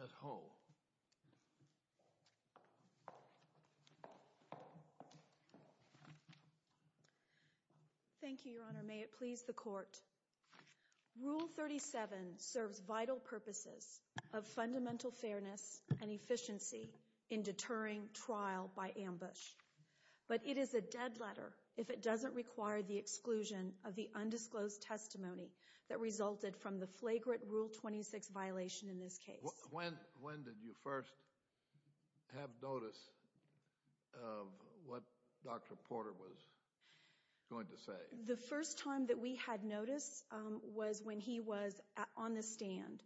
Ms. Hull. Thank you, Your Honor. May it please the Court. Rule 37 serves vital purposes of fundamental fairness and efficiency in deterring trial by ambush, but it is a dead letter if it doesn't require the exclusion of the When did you first have notice of what Dr. Porter was going to say? The first time that we had notice was when he was on the stand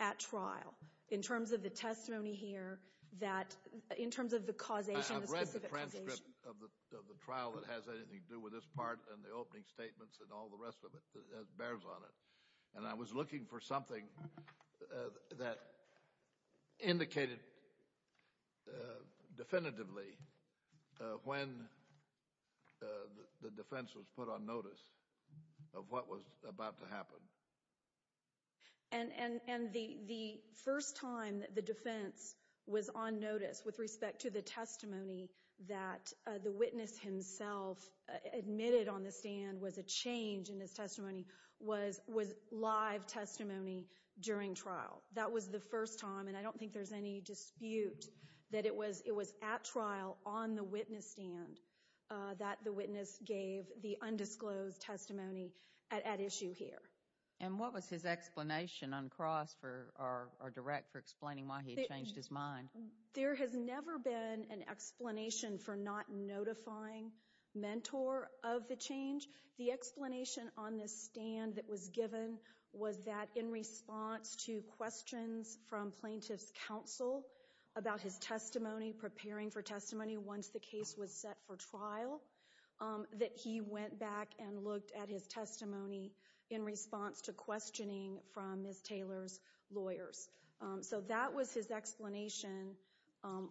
at trial in terms of the testimony here that in terms of the causation. I've read the transcript of the trial that has anything to do with this part and the opening statements and all the rest of it and I was looking for something that indicated definitively when the defense was put on notice of what was about to happen. And the first time that the defense was on notice with respect to the testimony that the witness himself admitted on the stand was a change in his testimony was live testimony during trial. That was the first time and I don't think there's any dispute that it was at trial on the witness stand that the witness gave the undisclosed testimony at issue here. And what was his explanation uncrossed or direct for explaining why he changed his mind? There has never been an explanation for not notifying mentor of the change. The explanation on this stand that was given was that in response to questions from plaintiff's counsel about his testimony, preparing for testimony once the case was set for trial, that he went back and looked at his testimony in response to questioning from Ms. Taylor's lawyers. So that was his explanation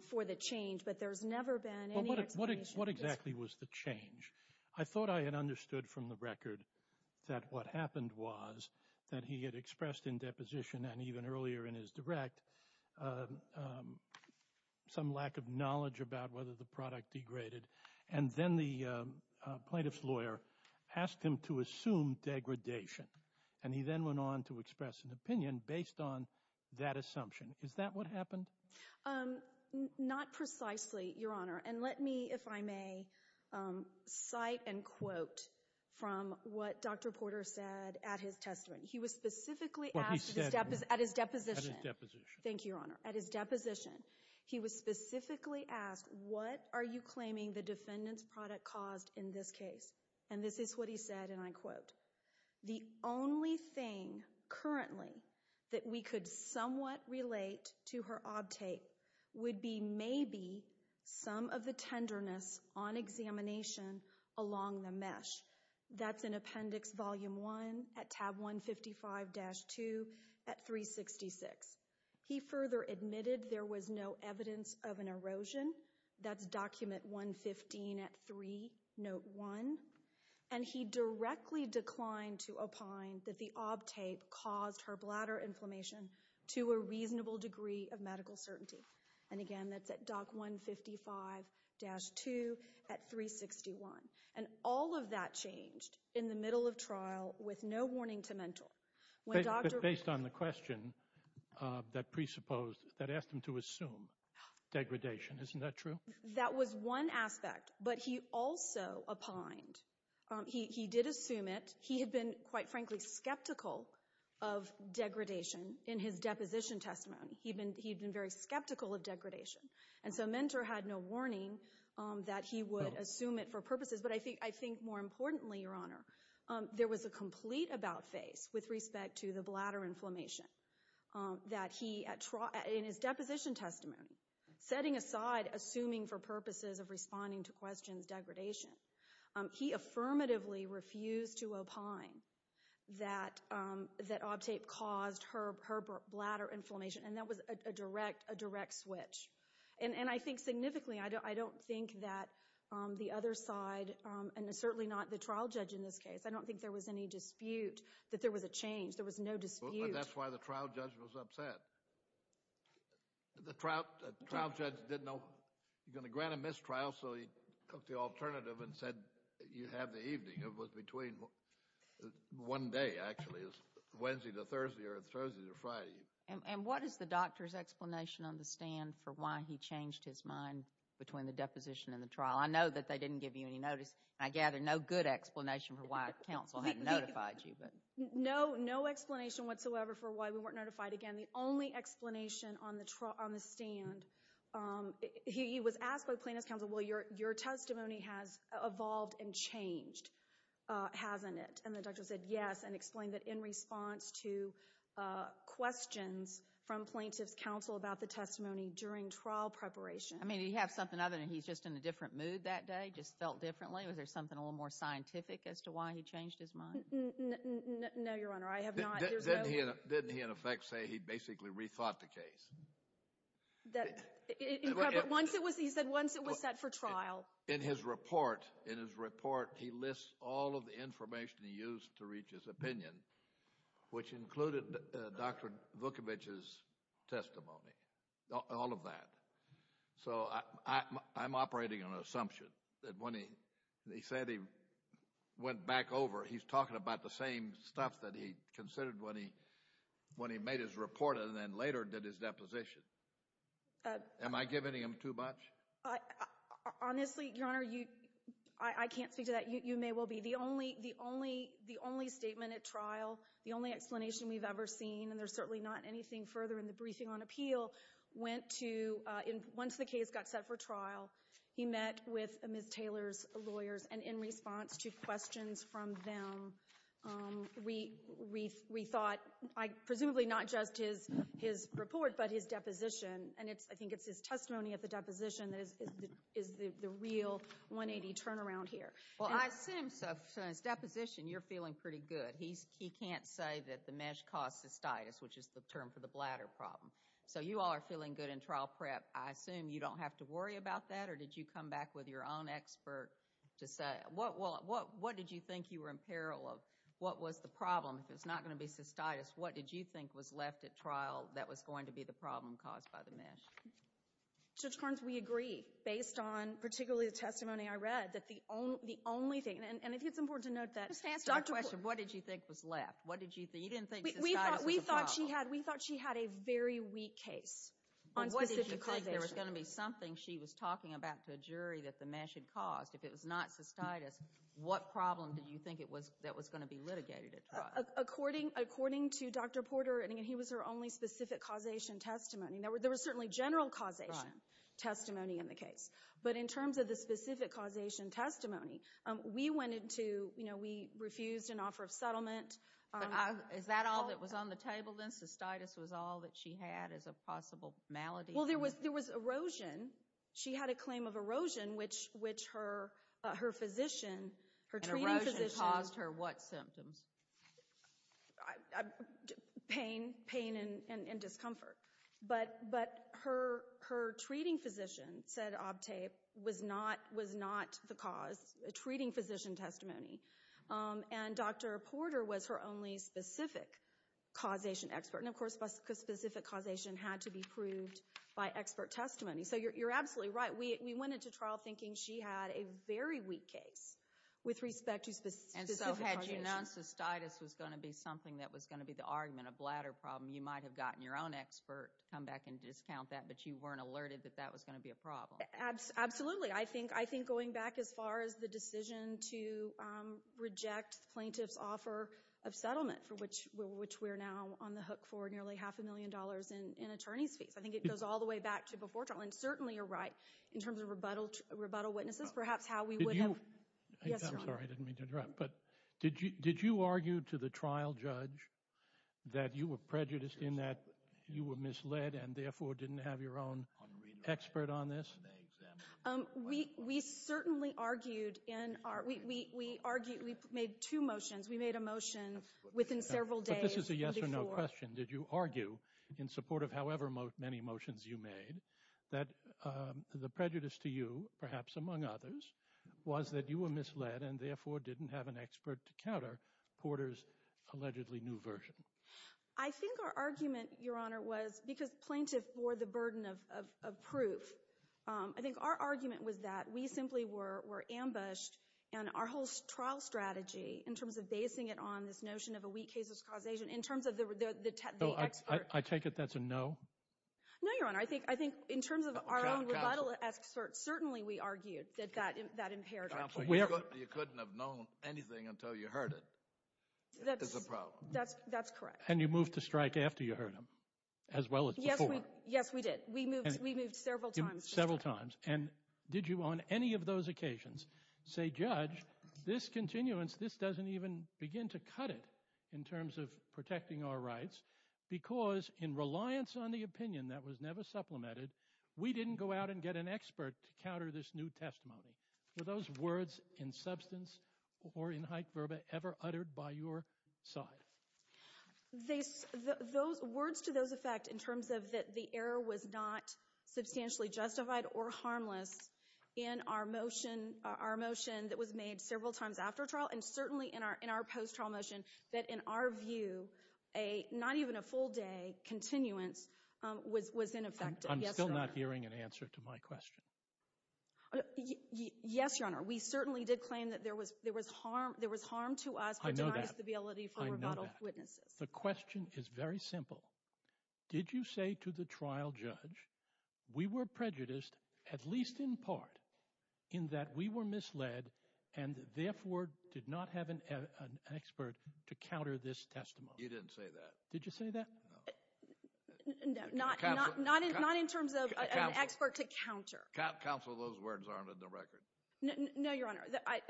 for the change. But there's never been any explanation. What exactly was the change? I thought I had understood from the record that what happened was that he had expressed in deposition and even earlier in his direct some lack of knowledge about whether the product degraded. And then the plaintiff's lawyer asked him to assume degradation. And he then went on to express an opinion based on that assumption. Is that what happened? Not precisely, Your Honor. And let me, if I may, cite and quote from what Dr. Porter said at his testimony. He was specifically asked at his deposition. Thank you, Your Honor. At his deposition, he was specifically asked, what are you claiming the defendant's product caused in this case? And this is what he said, and I quote, the only thing currently that we could somewhat relate to her obtate would be maybe some of the tenderness on examination along the mesh. That's in Appendix Volume 1 at Tab 155-2 at 366. He further admitted there was no evidence of an erosion. That's Document 115 at 3, Note 1. And he directly declined to opine that the obtate caused her bladder inflammation to a reasonable degree of medical certainty. And, again, that's at Doc 155-2 at 361. And all of that changed in the middle of trial with no warning to mentor. Based on the question that asked him to assume degradation. Isn't that true? That was one aspect, but he also opined. He did assume it. He had been, quite frankly, skeptical of degradation in his deposition testimony. He had been very skeptical of degradation. And so mentor had no warning that he would assume it for purposes. But I think, more importantly, Your Honor, there was a complete about-face with respect to the bladder inflammation that he, in his deposition testimony, setting aside assuming for purposes of responding to questions degradation. He affirmatively refused to opine that obtate caused her bladder inflammation. And that was a direct switch. And I think significantly, I don't think that the other side, and certainly not the trial judge in this case, I don't think there was any dispute that there was a change. There was no dispute. But that's why the trial judge was upset. The trial judge didn't know he was going to grant a mistrial, so he took the alternative and said you have the evening. It was between one day, actually. It was Wednesday to Thursday or Thursday to Friday. And what does the doctor's explanation understand for why he changed his mind between the deposition and the trial? I know that they didn't give you any notice, and I gather no good explanation for why counsel hadn't notified you. No explanation whatsoever for why we weren't notified. Again, the only explanation on the stand, he was asked by plaintiff's counsel, well, your testimony has evolved and changed, hasn't it? And the doctor said yes and explained that in response to questions from plaintiff's counsel about the testimony during trial preparation. I mean, did he have something other than he's just in a different mood that day, just felt differently? Was there something a little more scientific as to why he changed his mind? No, Your Honor, I have not. Didn't he, in effect, say he basically rethought the case? He said once it was set for trial. In his report, he lists all of the information he used to reach his opinion, which included Dr. Vukovich's testimony, all of that. So I'm operating on an assumption that when he said he went back over, he's talking about the same stuff that he considered when he made his report and then later did his deposition. Am I giving him too much? Honestly, Your Honor, I can't speak to that. You may well be. The only statement at trial, the only explanation we've ever seen, and there's certainly not anything further in the briefing on appeal, went to once the case got set for trial, he met with Ms. Taylor's lawyers, and in response to questions from them, we thought presumably not just his report but his deposition, and I think it's his testimony at the deposition that is the real 180 turnaround here. Well, I assume so. So in his deposition, you're feeling pretty good. He can't say that the mesh caused cystitis, which is the term for the bladder problem. So you all are feeling good in trial prep. I assume you don't have to worry about that, or did you come back with your own expert to say? What did you think you were in peril of? What was the problem? If it's not going to be cystitis, what did you think was left at trial that was going to be the problem caused by the mesh? Judge Carnes, we agree, based on particularly the testimony I read, that the only thing, and I think it's important to note that— Just answer the question. What did you think was left? You didn't think cystitis was a problem. We thought she had a very weak case on specific causation. What did you think? There was going to be something she was talking about to a jury that the mesh had caused. If it was not cystitis, what problem did you think that was going to be litigated at trial? According to Dr. Porter, and again, he was her only specific causation testimony. There was certainly general causation testimony in the case. But in terms of the specific causation testimony, we refused an offer of settlement. Is that all that was on the table then? Cystitis was all that she had as a possible malady? Well, there was erosion. She had a claim of erosion, which her physician, her treating physician— And erosion caused her what symptoms? Pain and discomfort. But her treating physician, said Abte, was not the cause. A treating physician testimony. And Dr. Porter was her only specific causation expert. And of course, specific causation had to be proved by expert testimony. So you're absolutely right. We went into trial thinking she had a very weak case with respect to specific causation. And so had you known cystitis was going to be something that was going to be the argument, a bladder problem, you might have gotten your own expert to come back and discount that, but you weren't alerted that that was going to be a problem. Absolutely. I think going back as far as the decision to reject the plaintiff's offer of settlement, for which we're now on the hook for nearly half a million dollars in attorney's fees. I think it goes all the way back to before trial. And certainly you're right in terms of rebuttal witnesses. Perhaps how we would have— Did you— Yes, Your Honor. I'm sorry. I didn't mean to interrupt. But did you argue to the trial judge that you were prejudiced in that you were misled and therefore didn't have your own expert on this? We certainly argued in our—we made two motions. We made a motion within several days before— But this is a yes or no question. Did you argue in support of however many motions you made that the prejudice to you, perhaps among others, was that you were misled and therefore didn't have an expert to counter Porter's allegedly new version? I think our argument, Your Honor, was because plaintiff bore the burden of proof. I think our argument was that we simply were ambushed, and our whole trial strategy in terms of basing it on this notion of a weak case of causation, in terms of the expert— I take it that's a no? No, Your Honor. I think in terms of our own rebuttal experts, certainly we argued that that impaired our case. You couldn't have known anything until you heard it. That's a problem. That's correct. And you moved to strike after you heard them, as well as before. Yes, we did. We moved several times. Several times. And did you on any of those occasions say, Judge, this continuance, this doesn't even begin to cut it in terms of protecting our rights because in reliance on the opinion that was never supplemented, we didn't go out and get an expert to counter this new testimony? Were those words in substance or in haec verba ever uttered by your side? Words to those effect in terms of that the error was not substantially justified or harmless in our motion that was made several times after trial, and certainly in our post-trial motion, that in our view not even a full day continuance was in effect. I'm still not hearing an answer to my question. Yes, Your Honor. We certainly did claim that there was harm to us but denied stability for rebuttal witnesses. I know that. The question is very simple. Did you say to the trial judge, we were prejudiced at least in part in that we were misled and therefore did not have an expert to counter this testimony? You didn't say that. Did you say that? No. Not in terms of an expert to counter. Counsel, those words aren't in the record. No, Your Honor. I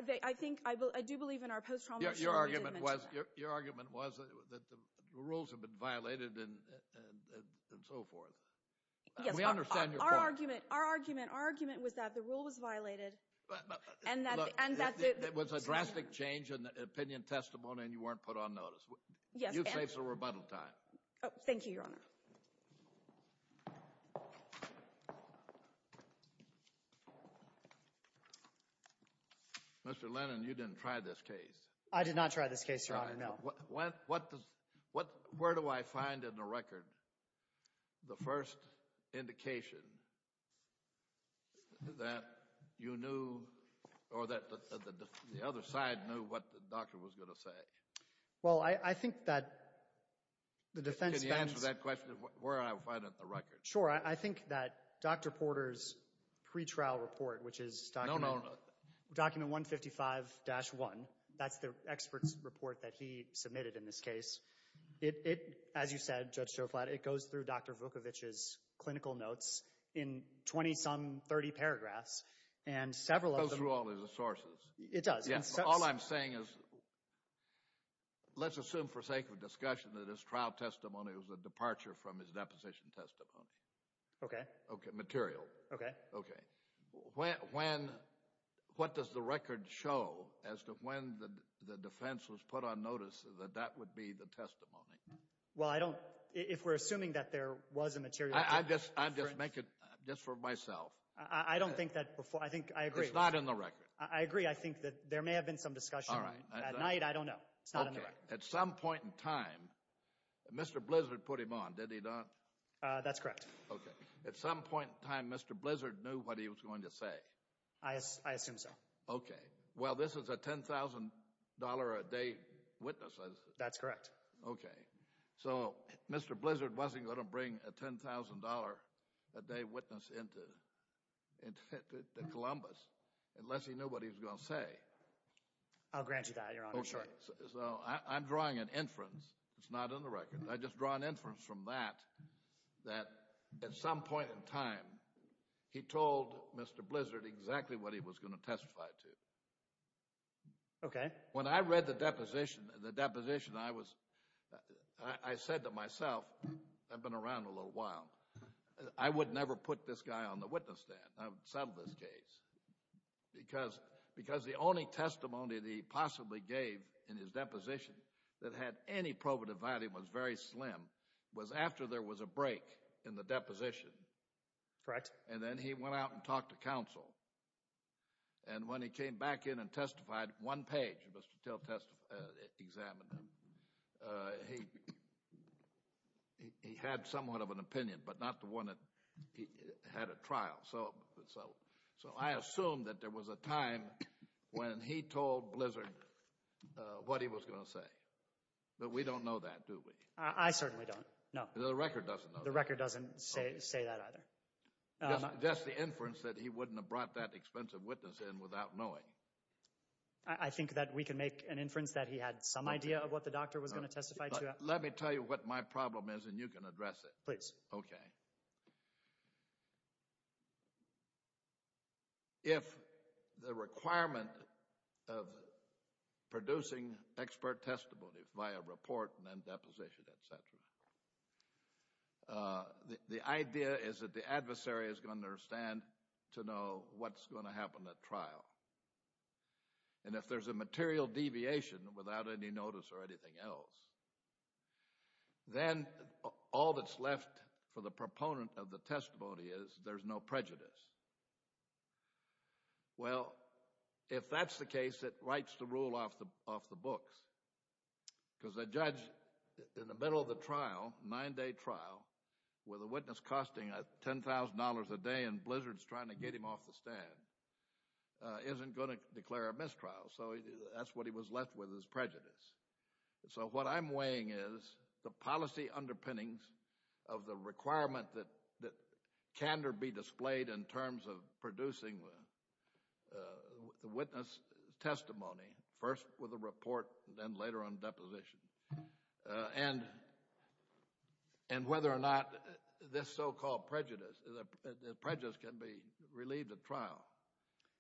do believe in our post-trial motion. Your argument was that the rules had been violated and so forth. Yes. We understand your point. Our argument was that the rule was violated. It was a drastic change in the opinion testimony and you weren't put on notice. You've saved some rebuttal time. Thank you, Your Honor. Mr. Lennon, you didn't try this case. I did not try this case, Your Honor. No. Where do I find in the record the first indication that you knew or that the other side knew what the doctor was going to say? Well, I think that the defense spends— Can you answer that question of where I find it in the record? Sure. I think that Dr. Porter's pretrial report, which is document 155-1, that's the expert's report that he submitted in this case, it, as you said, Judge Shoflat, it goes through Dr. Vukovic's clinical notes in 20-some, 30 paragraphs, and several of them— It goes through all of the sources. It does. Yes. All I'm saying is let's assume for sake of discussion that his trial testimony was a departure from his deposition testimony. Okay. Material. Okay. Okay. What does the record show as to when the defense was put on notice that that would be the testimony? Well, I don't—if we're assuming that there was a material— I just make it just for myself. I don't think that—I agree. It's not in the record. I agree. I think that there may have been some discussion. All right. At night, I don't know. It's not in the record. Okay. At some point in time, Mr. Blizzard put him on, did he not? That's correct. Okay. At some point in time, Mr. Blizzard knew what he was going to say. I assume so. Okay. Well, this is a $10,000-a-day witness, is it? That's correct. Okay. So Mr. Blizzard wasn't going to bring a $10,000-a-day witness into Columbus unless he knew what he was going to say. I'll grant you that, Your Honor. Sure. Okay. So I'm drawing an inference. It's not in the record. I just draw an inference from that that at some point in time, he told Mr. Blizzard exactly what he was going to testify to. Okay. When I read the deposition, I said to myself—I've been around a little while— I would never put this guy on the witness stand. I would settle this case. Because the only testimony that he possibly gave in his deposition that had any probative value and was very slim was after there was a break in the deposition. Correct. And then he went out and talked to counsel. And when he came back in and testified, one page, Mr. Till examined him. He had somewhat of an opinion, but not the one that he had at trial. So I assume that there was a time when he told Blizzard what he was going to say. But we don't know that, do we? I certainly don't, no. The record doesn't know that. The record doesn't say that either. Just the inference that he wouldn't have brought that expensive witness in without knowing. I think that we can make an inference that he had some idea of what the doctor was going to testify to. Let me tell you what my problem is, and you can address it. Please. Okay. If the requirement of producing expert testimony via report and then deposition, et cetera, the idea is that the adversary is going to understand to know what's going to happen at trial. And if there's a material deviation without any notice or anything else, then all that's left for the proponent of the testimony is there's no prejudice. Well, if that's the case, it writes the rule off the books. Because the judge, in the middle of the trial, nine-day trial, with a witness costing $10,000 a day and Blizzard's trying to get him off the stand, isn't going to declare a mistrial. So that's what he was left with is prejudice. So what I'm weighing is the policy underpinnings of the requirement that candor be displayed in terms of producing the witness testimony, first with a report and then later on deposition, and whether or not this so-called prejudice can be relieved at trial.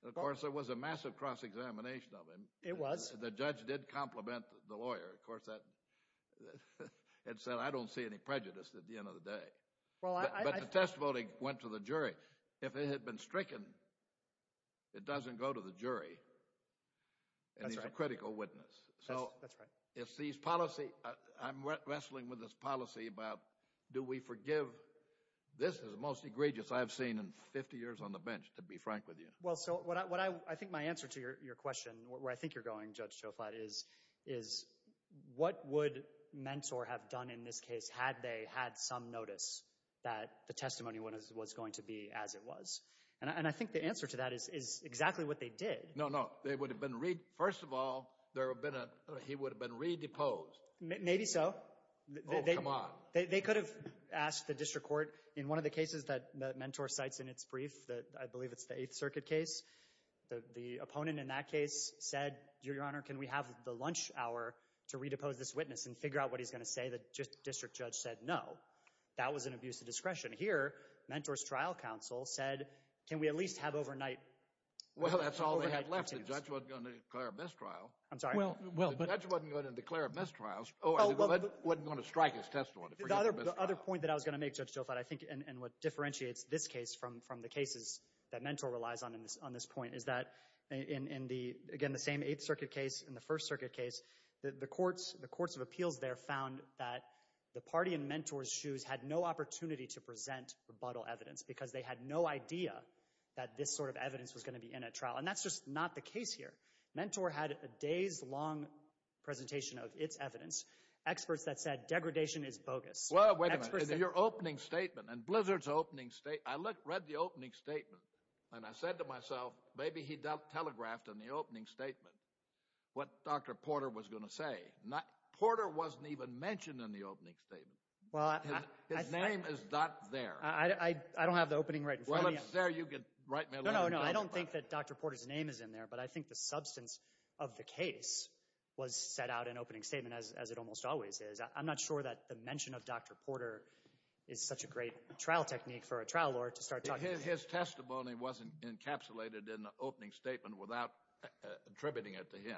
Of course, there was a massive cross-examination of him. It was. The judge did compliment the lawyer. Of course, it said, I don't see any prejudice at the end of the day. But the testimony went to the jury. If it had been stricken, it doesn't go to the jury. And he's a critical witness. So if these policy—I'm wrestling with this policy about do we forgive? This is the most egregious I've seen in 50 years on the bench, to be frank with you. Well, so I think my answer to your question, where I think you're going, Judge Shoflat, is what would Mentor have done in this case had they had some notice that the testimony was going to be as it was? And I think the answer to that is exactly what they did. No, no. They would have been—first of all, he would have been redeposed. Maybe so. Oh, come on. They could have asked the district court. In one of the cases that Mentor cites in its brief, I believe it's the Eighth Circuit case, the opponent in that case said, Your Honor, can we have the lunch hour to redepose this witness and figure out what he's going to say? The district judge said no. That was an abuse of discretion. Here, Mentor's trial counsel said, can we at least have overnight— Well, that's all they had left. The judge wasn't going to declare a mistrial. I'm sorry? The judge wasn't going to declare a mistrial. Oh, he wasn't going to strike his testimony. The other point that I was going to make, Judge Shoflat, and what differentiates this case from the cases that Mentor relies on on this point is that in, again, the same Eighth Circuit case and the First Circuit case, the courts of appeals there found that the party in Mentor's shoes had no opportunity to present rebuttal evidence because they had no idea that this sort of evidence was going to be in a trial. And that's just not the case here. Mentor had a days-long presentation of its evidence, experts that said degradation is bogus. Well, wait a minute. In your opening statement, in Blizzard's opening statement— I read the opening statement, and I said to myself, maybe he telegraphed in the opening statement what Dr. Porter was going to say. Porter wasn't even mentioned in the opening statement. His name is not there. I don't have the opening right in front of me. Well, if it's there, you can write me a letter. No, no, no, I don't think that Dr. Porter's name is in there, but I think the substance of the case was set out in opening statement, as it almost always is. I'm not sure that the mention of Dr. Porter is such a great trial technique for a trial lawyer to start talking— His testimony wasn't encapsulated in the opening statement without attributing it to him.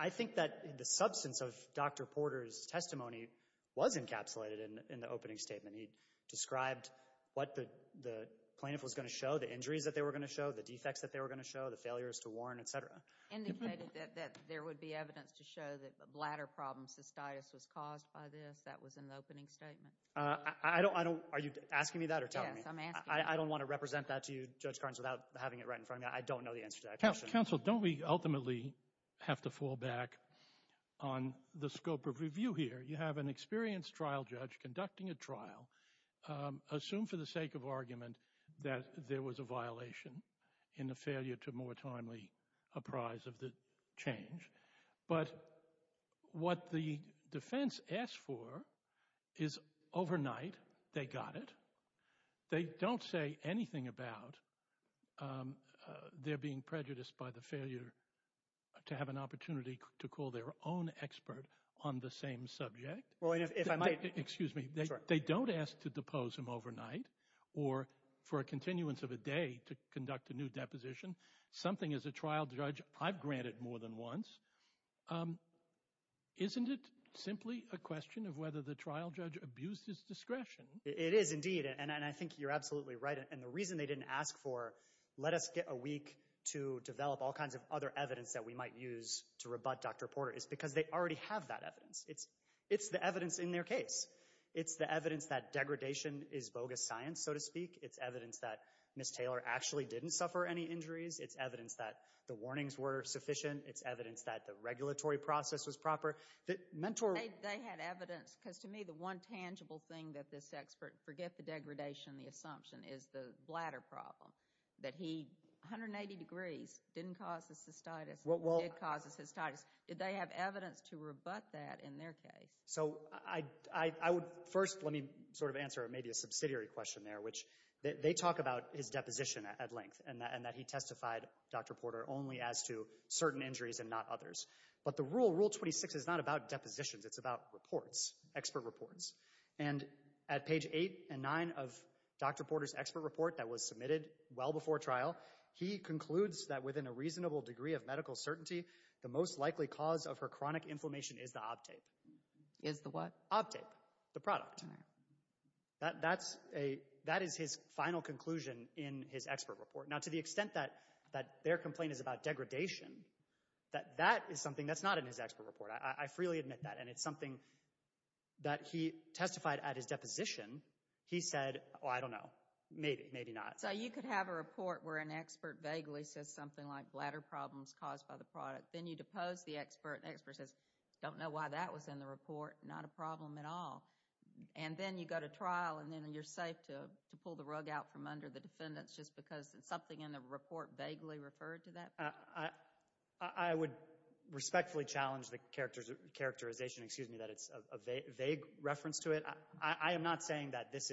I think that the substance of Dr. Porter's testimony was encapsulated in the opening statement. He described what the plaintiff was going to show, the injuries that they were going to show, the defects that they were going to show, the failures to warn, et cetera. Indicated that there would be evidence to show that bladder problems, cystitis, was caused by this. That was in the opening statement. Are you asking me that or telling me? Yes, I'm asking you. I don't want to represent that to you, Judge Carnes, without having it right in front of me. I don't know the answer to that question. Counsel, don't we ultimately have to fall back on the scope of review here? You have an experienced trial judge conducting a trial. Assume for the sake of argument that there was a violation and a failure to more timely apprise of the change. But what the defense asked for is overnight they got it. They don't say anything about their being prejudiced by the failure to have an opportunity to call their own expert on the same subject. Well, if I might. Excuse me. They don't ask to depose him overnight or for a continuance of a day to conduct a new deposition. Something, as a trial judge, I've granted more than once. Isn't it simply a question of whether the trial judge abused his discretion? It is indeed, and I think you're absolutely right. And the reason they didn't ask for let us get a week to develop all kinds of other evidence that we might use to rebut Dr. Porter is because they already have that evidence. It's the evidence in their case. It's the evidence that degradation is bogus science, so to speak. It's evidence that Ms. Taylor actually didn't suffer any injuries. It's evidence that the warnings were sufficient. It's evidence that the regulatory process was proper. They had evidence, because to me the one tangible thing that this expert, forget the degradation, the assumption, is the bladder problem, that he 180 degrees didn't cause the cystitis, did cause the cystitis. Did they have evidence to rebut that in their case? So first let me sort of answer maybe a subsidiary question there, which they talk about his deposition at length, and that he testified, Dr. Porter, only as to certain injuries and not others. But the rule, Rule 26, is not about depositions. It's about reports, expert reports. And at page 8 and 9 of Dr. Porter's expert report that was submitted well before trial, he concludes that within a reasonable degree of medical certainty, the most likely cause of her chronic inflammation is the ObTape. Is the what? ObTape, the product. That is his final conclusion in his expert report. Now to the extent that their complaint is about degradation, that is something that's not in his expert report. I freely admit that. And it's something that he testified at his deposition, he said, oh, I don't know, maybe, maybe not. So you could have a report where an expert vaguely says something like, bladder problems caused by the product. Then you depose the expert, and the expert says, don't know why that was in the report, not a problem at all. And then you go to trial, and then you're safe to pull the rug out from under the defendants just because something in the report vaguely referred to that? I would respectfully challenge the characterization, excuse me, that it's a vague reference to it. I am not saying that this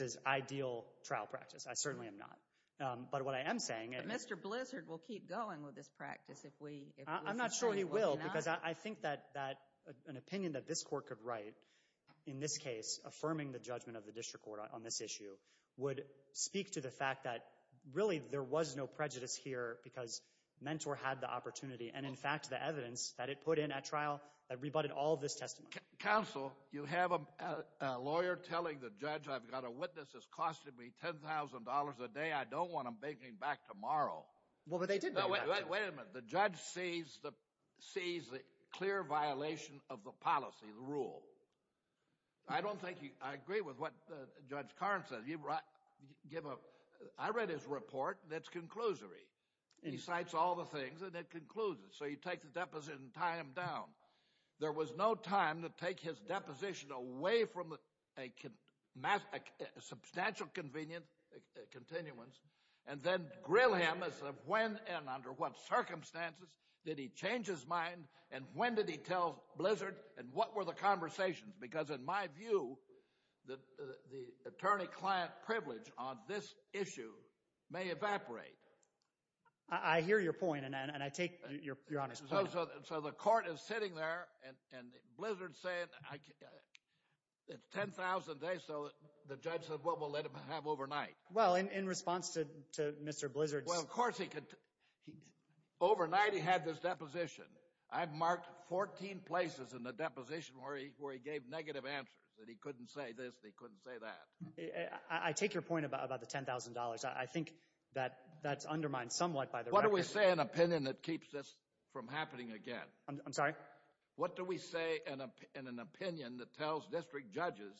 is ideal trial practice. I certainly am not. But what I am saying is – But Mr. Blizzard will keep going with this practice if we – I'm not sure he will, because I think that an opinion that this court could write in this case, affirming the judgment of the district court on this issue, would speak to the fact that, really, there was no prejudice here because Mentor had the opportunity and, in fact, the evidence that it put in at trial that rebutted all of this testimony. Counsel, you have a lawyer telling the judge, I've got a witness that's costing me $10,000 a day. Well, but they did – No, wait a minute. The judge sees the clear violation of the policy, the rule. I don't think he – I agree with what Judge Karn says. I read his report, and it's conclusory. He cites all the things, and it concludes it. So you take the deposition and tie him down. There was no time to take his deposition away from a substantial, convenient continuance and then grill him as to when and under what circumstances did he change his mind and when did he tell Blizzard, and what were the conversations? Because, in my view, the attorney-client privilege on this issue may evaporate. I hear your point, and I take your honest point. So the court is sitting there, and Blizzard's saying it's $10,000 a day, so the judge said, well, we'll let him have overnight. Well, in response to Mr. Blizzard's – Well, of course he could – Overnight he had this deposition. I've marked 14 places in the deposition where he gave negative answers, that he couldn't say this and he couldn't say that. I take your point about the $10,000. I think that that's undermined somewhat by the – What do we say in an opinion that keeps this from happening again? I'm sorry? What do we say in an opinion that tells district judges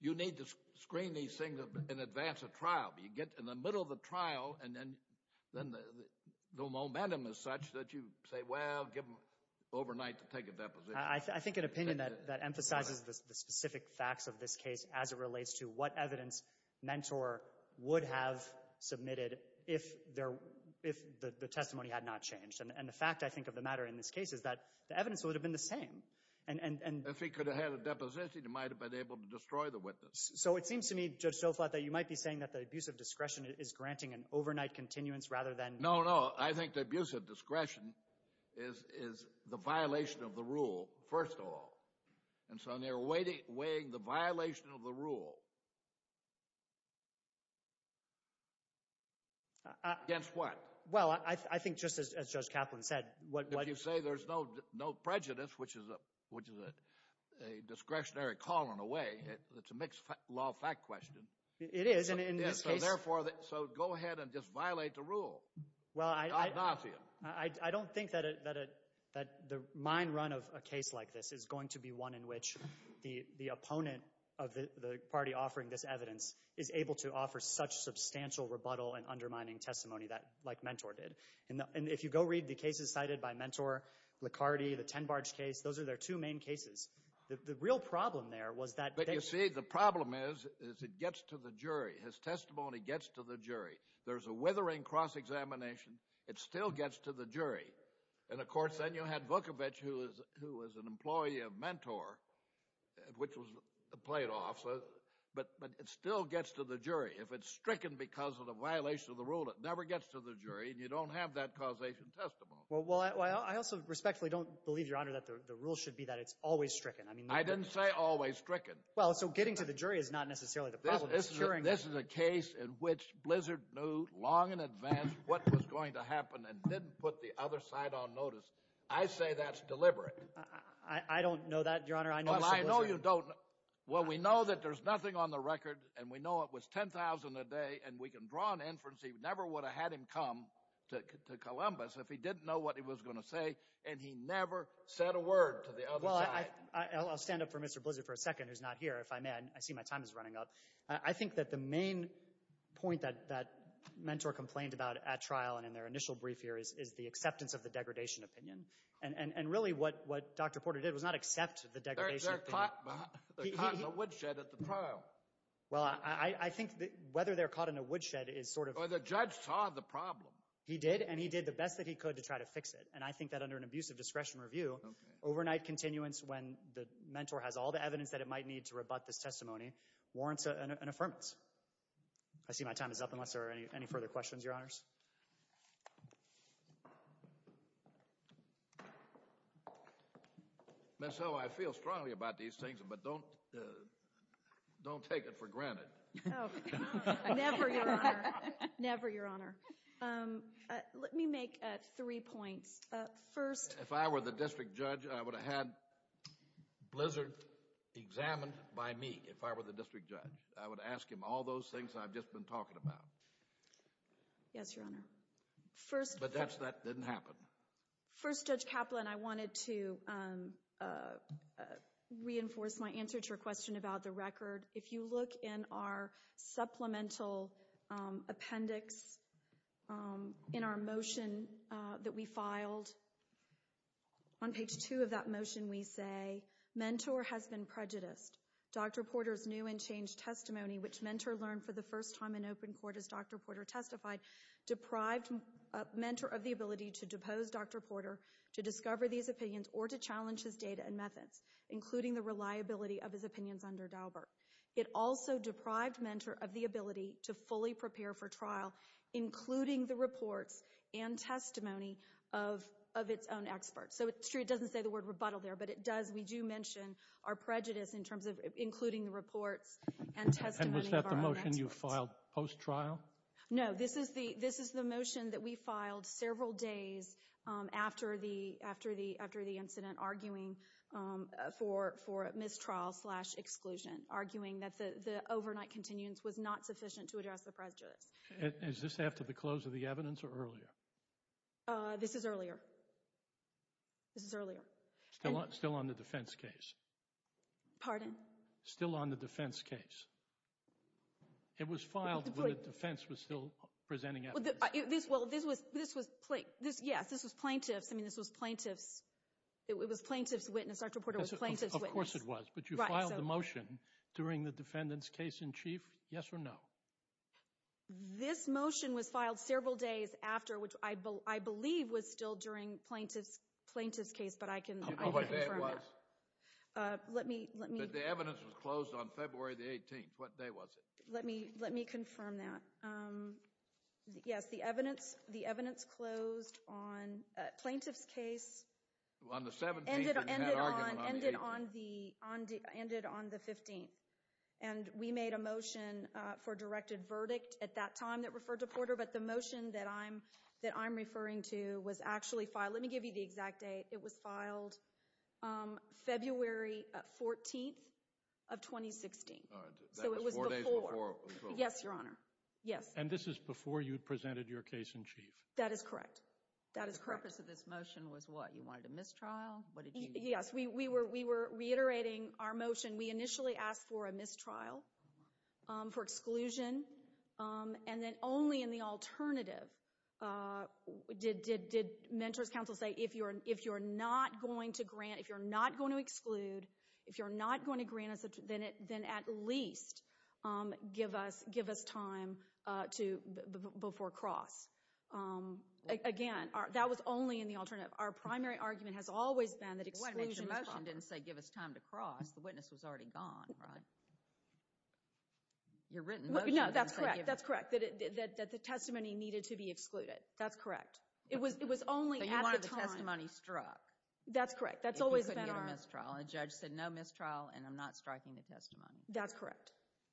you need to screen these things in advance of trial? You get in the middle of the trial, and then the momentum is such that you say, well, give him overnight to take a deposition. I think an opinion that emphasizes the specific facts of this case as it relates to what evidence Mentor would have submitted if the testimony had not changed. And the fact, I think, of the matter in this case is that the evidence would have been the same. If he could have had a deposition, he might have been able to destroy the witness. So it seems to me, Judge Stolflat, that you might be saying that the abuse of discretion is granting an overnight continuance rather than – No, no, I think the abuse of discretion is the violation of the rule, first of all. And so they're weighing the violation of the rule against what? Well, I think just as Judge Kaplan said – If you say there's no prejudice, which is a discretionary call in a way, it's a mixed-law fact question. It is, and in this case – So therefore, so go ahead and just violate the rule. Well, I – Ad nauseum. I don't think that the mind run of a case like this is going to be one in which the opponent of the party offering this evidence is able to offer such substantial rebuttal and undermining testimony like Mentor did. And if you go read the cases cited by Mentor, Licardi, the Tenbarge case, those are their two main cases. The real problem there was that – But you see, the problem is it gets to the jury. His testimony gets to the jury. There's a withering cross-examination. It still gets to the jury. And, of course, then you had Vukovich, who was an employee of Mentor, which played off, but it still gets to the jury. If it's stricken because of the violation of the rule, it never gets to the jury, and you don't have that causation testimony. Well, I also respectfully don't believe, Your Honor, that the rule should be that it's always stricken. I didn't say always stricken. Well, so getting to the jury is not necessarily the problem. This is a case in which Blizzard knew long in advance what was going to happen and didn't put the other side on notice. I say that's deliberate. I don't know that, Your Honor. Well, I know you don't. Well, we know that there's nothing on the record, and we know it was 10,000 a day, and we can draw an inference he never would have had him come to Columbus if he didn't know what he was going to say, and he never said a word to the other side. Well, I'll stand up for Mr. Blizzard for a second, who's not here, if I may. I see my time is running up. I think that the main point that Mentor complained about at trial and in their initial brief here is the acceptance of the degradation opinion, and really what Dr. Porter did was not accept the degradation opinion. They're caught in a woodshed at the trial. Well, I think whether they're caught in a woodshed is sort of— Well, the judge saw the problem. He did, and he did the best that he could to try to fix it, and I think that under an abuse of discretion review, overnight continuance when the Mentor has all the evidence that it might need to rebut this testimony warrants an affirmance. I see my time is up unless there are any further questions, Your Honors. Ms. Ho, I feel strongly about these things, but don't take it for granted. Oh, never, Your Honor. Never, Your Honor. Let me make three points. If I were the district judge, I would have had Blizzard examined by me, if I were the district judge. I would ask him all those things I've just been talking about. Yes, Your Honor. But that didn't happen. First, Judge Kaplan, I wanted to reinforce my answer to your question about the record. If you look in our supplemental appendix in our motion that we filed, on page two of that motion we say, Mentor has been prejudiced. Dr. Porter's new and changed testimony, which Mentor learned for the first time in open court as Dr. Porter testified, deprived Mentor of the ability to depose Dr. Porter to discover these opinions or to challenge his data and methods, including the reliability of his opinions under Daubert. It also deprived Mentor of the ability to fully prepare for trial, including the reports and testimony of its own experts. So it's true it doesn't say the word rebuttal there, but it does. We do mention our prejudice in terms of including the reports and testimony of our own experts. And was that the motion you filed post-trial? No, this is the motion that we filed several days after the incident, arguing for mistrial-slash-exclusion, arguing that the overnight continuance was not sufficient to address the prejudice. Is this after the close of the evidence or earlier? This is earlier. This is earlier. Still on the defense case? Pardon? Still on the defense case? It was filed when the defense was still presenting evidence. Yes, this was plaintiff's. I mean, this was plaintiff's. It was plaintiff's witness. Dr. Porter was plaintiff's witness. Of course it was. But you filed the motion during the defendant's case in chief, yes or no? This motion was filed several days after, which I believe was still during plaintiff's case, but I can confirm that. But the evidence was closed on February the 18th. What day was it? Let me confirm that. Yes, the evidence closed on plaintiff's case. On the 17th and had argument on the 18th. Ended on the 15th. And we made a motion for directed verdict at that time that referred to Porter, but the motion that I'm referring to was actually filed. Let me give you the exact date. It was filed February 14th of 2016. So it was before. Four days before. Yes, Your Honor. Yes. And this is before you presented your case in chief? That is correct. That is correct. The purpose of this motion was what? You wanted a mistrial? What did you do? Yes, we were reiterating our motion. We initially asked for a mistrial for exclusion. And then only in the alternative did mentors counsel say, if you're not going to grant, if you're not going to exclude, if you're not going to grant us, then at least give us time before cross. Again, that was only in the alternative. Our primary argument has always been that exclusion is wrong. Your motion didn't say give us time to cross. The witness was already gone, right? Your written motion didn't say give us time. No, that's correct. That's correct, that the testimony needed to be excluded. That's correct. It was only at the time. So you wanted the testimony struck. That's correct. That's always been our. If you couldn't get a mistrial. A judge said no mistrial and I'm not striking the testimony. That's correct.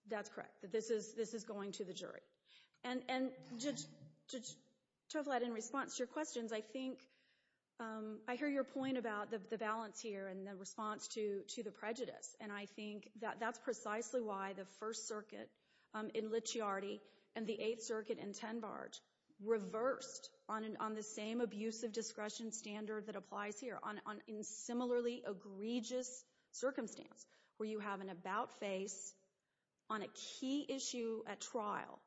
That's correct. That this is going to the jury. And, Judge Tovled, in response to your questions, I think, I hear your point about the balance here and the response to the prejudice. And I think that that's precisely why the First Circuit in Licciardi and the Eighth Circuit in Ten Barge reversed on the same abusive discretion standard that applies here, on a similarly egregious circumstance where you have an about face on a key issue at trial.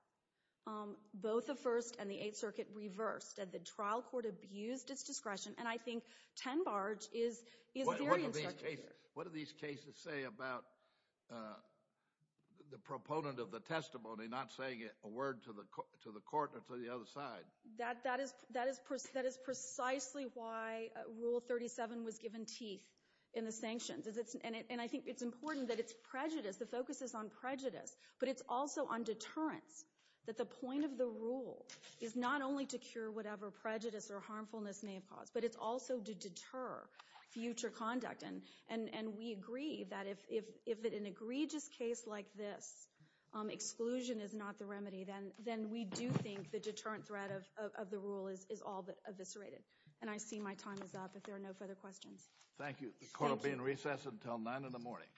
Both the First and the Eighth Circuit reversed. The trial court abused its discretion. And I think Ten Barge is very insecure. What do these cases say about the proponent of the testimony not saying a word to the court or to the other side? That is precisely why Rule 37 was given teeth in the sanctions. And I think it's important that it's prejudice. The focus is on prejudice. But it's also on deterrence, that the point of the rule is not only to cure whatever prejudice or harmfulness may have caused, but it's also to deter future conduct. And we agree that if an egregious case like this, exclusion is not the remedy, then we do think the deterrent threat of the rule is all but eviscerated. And I see my time is up if there are no further questions. Thank you. The court will be in recess until 9 in the morning.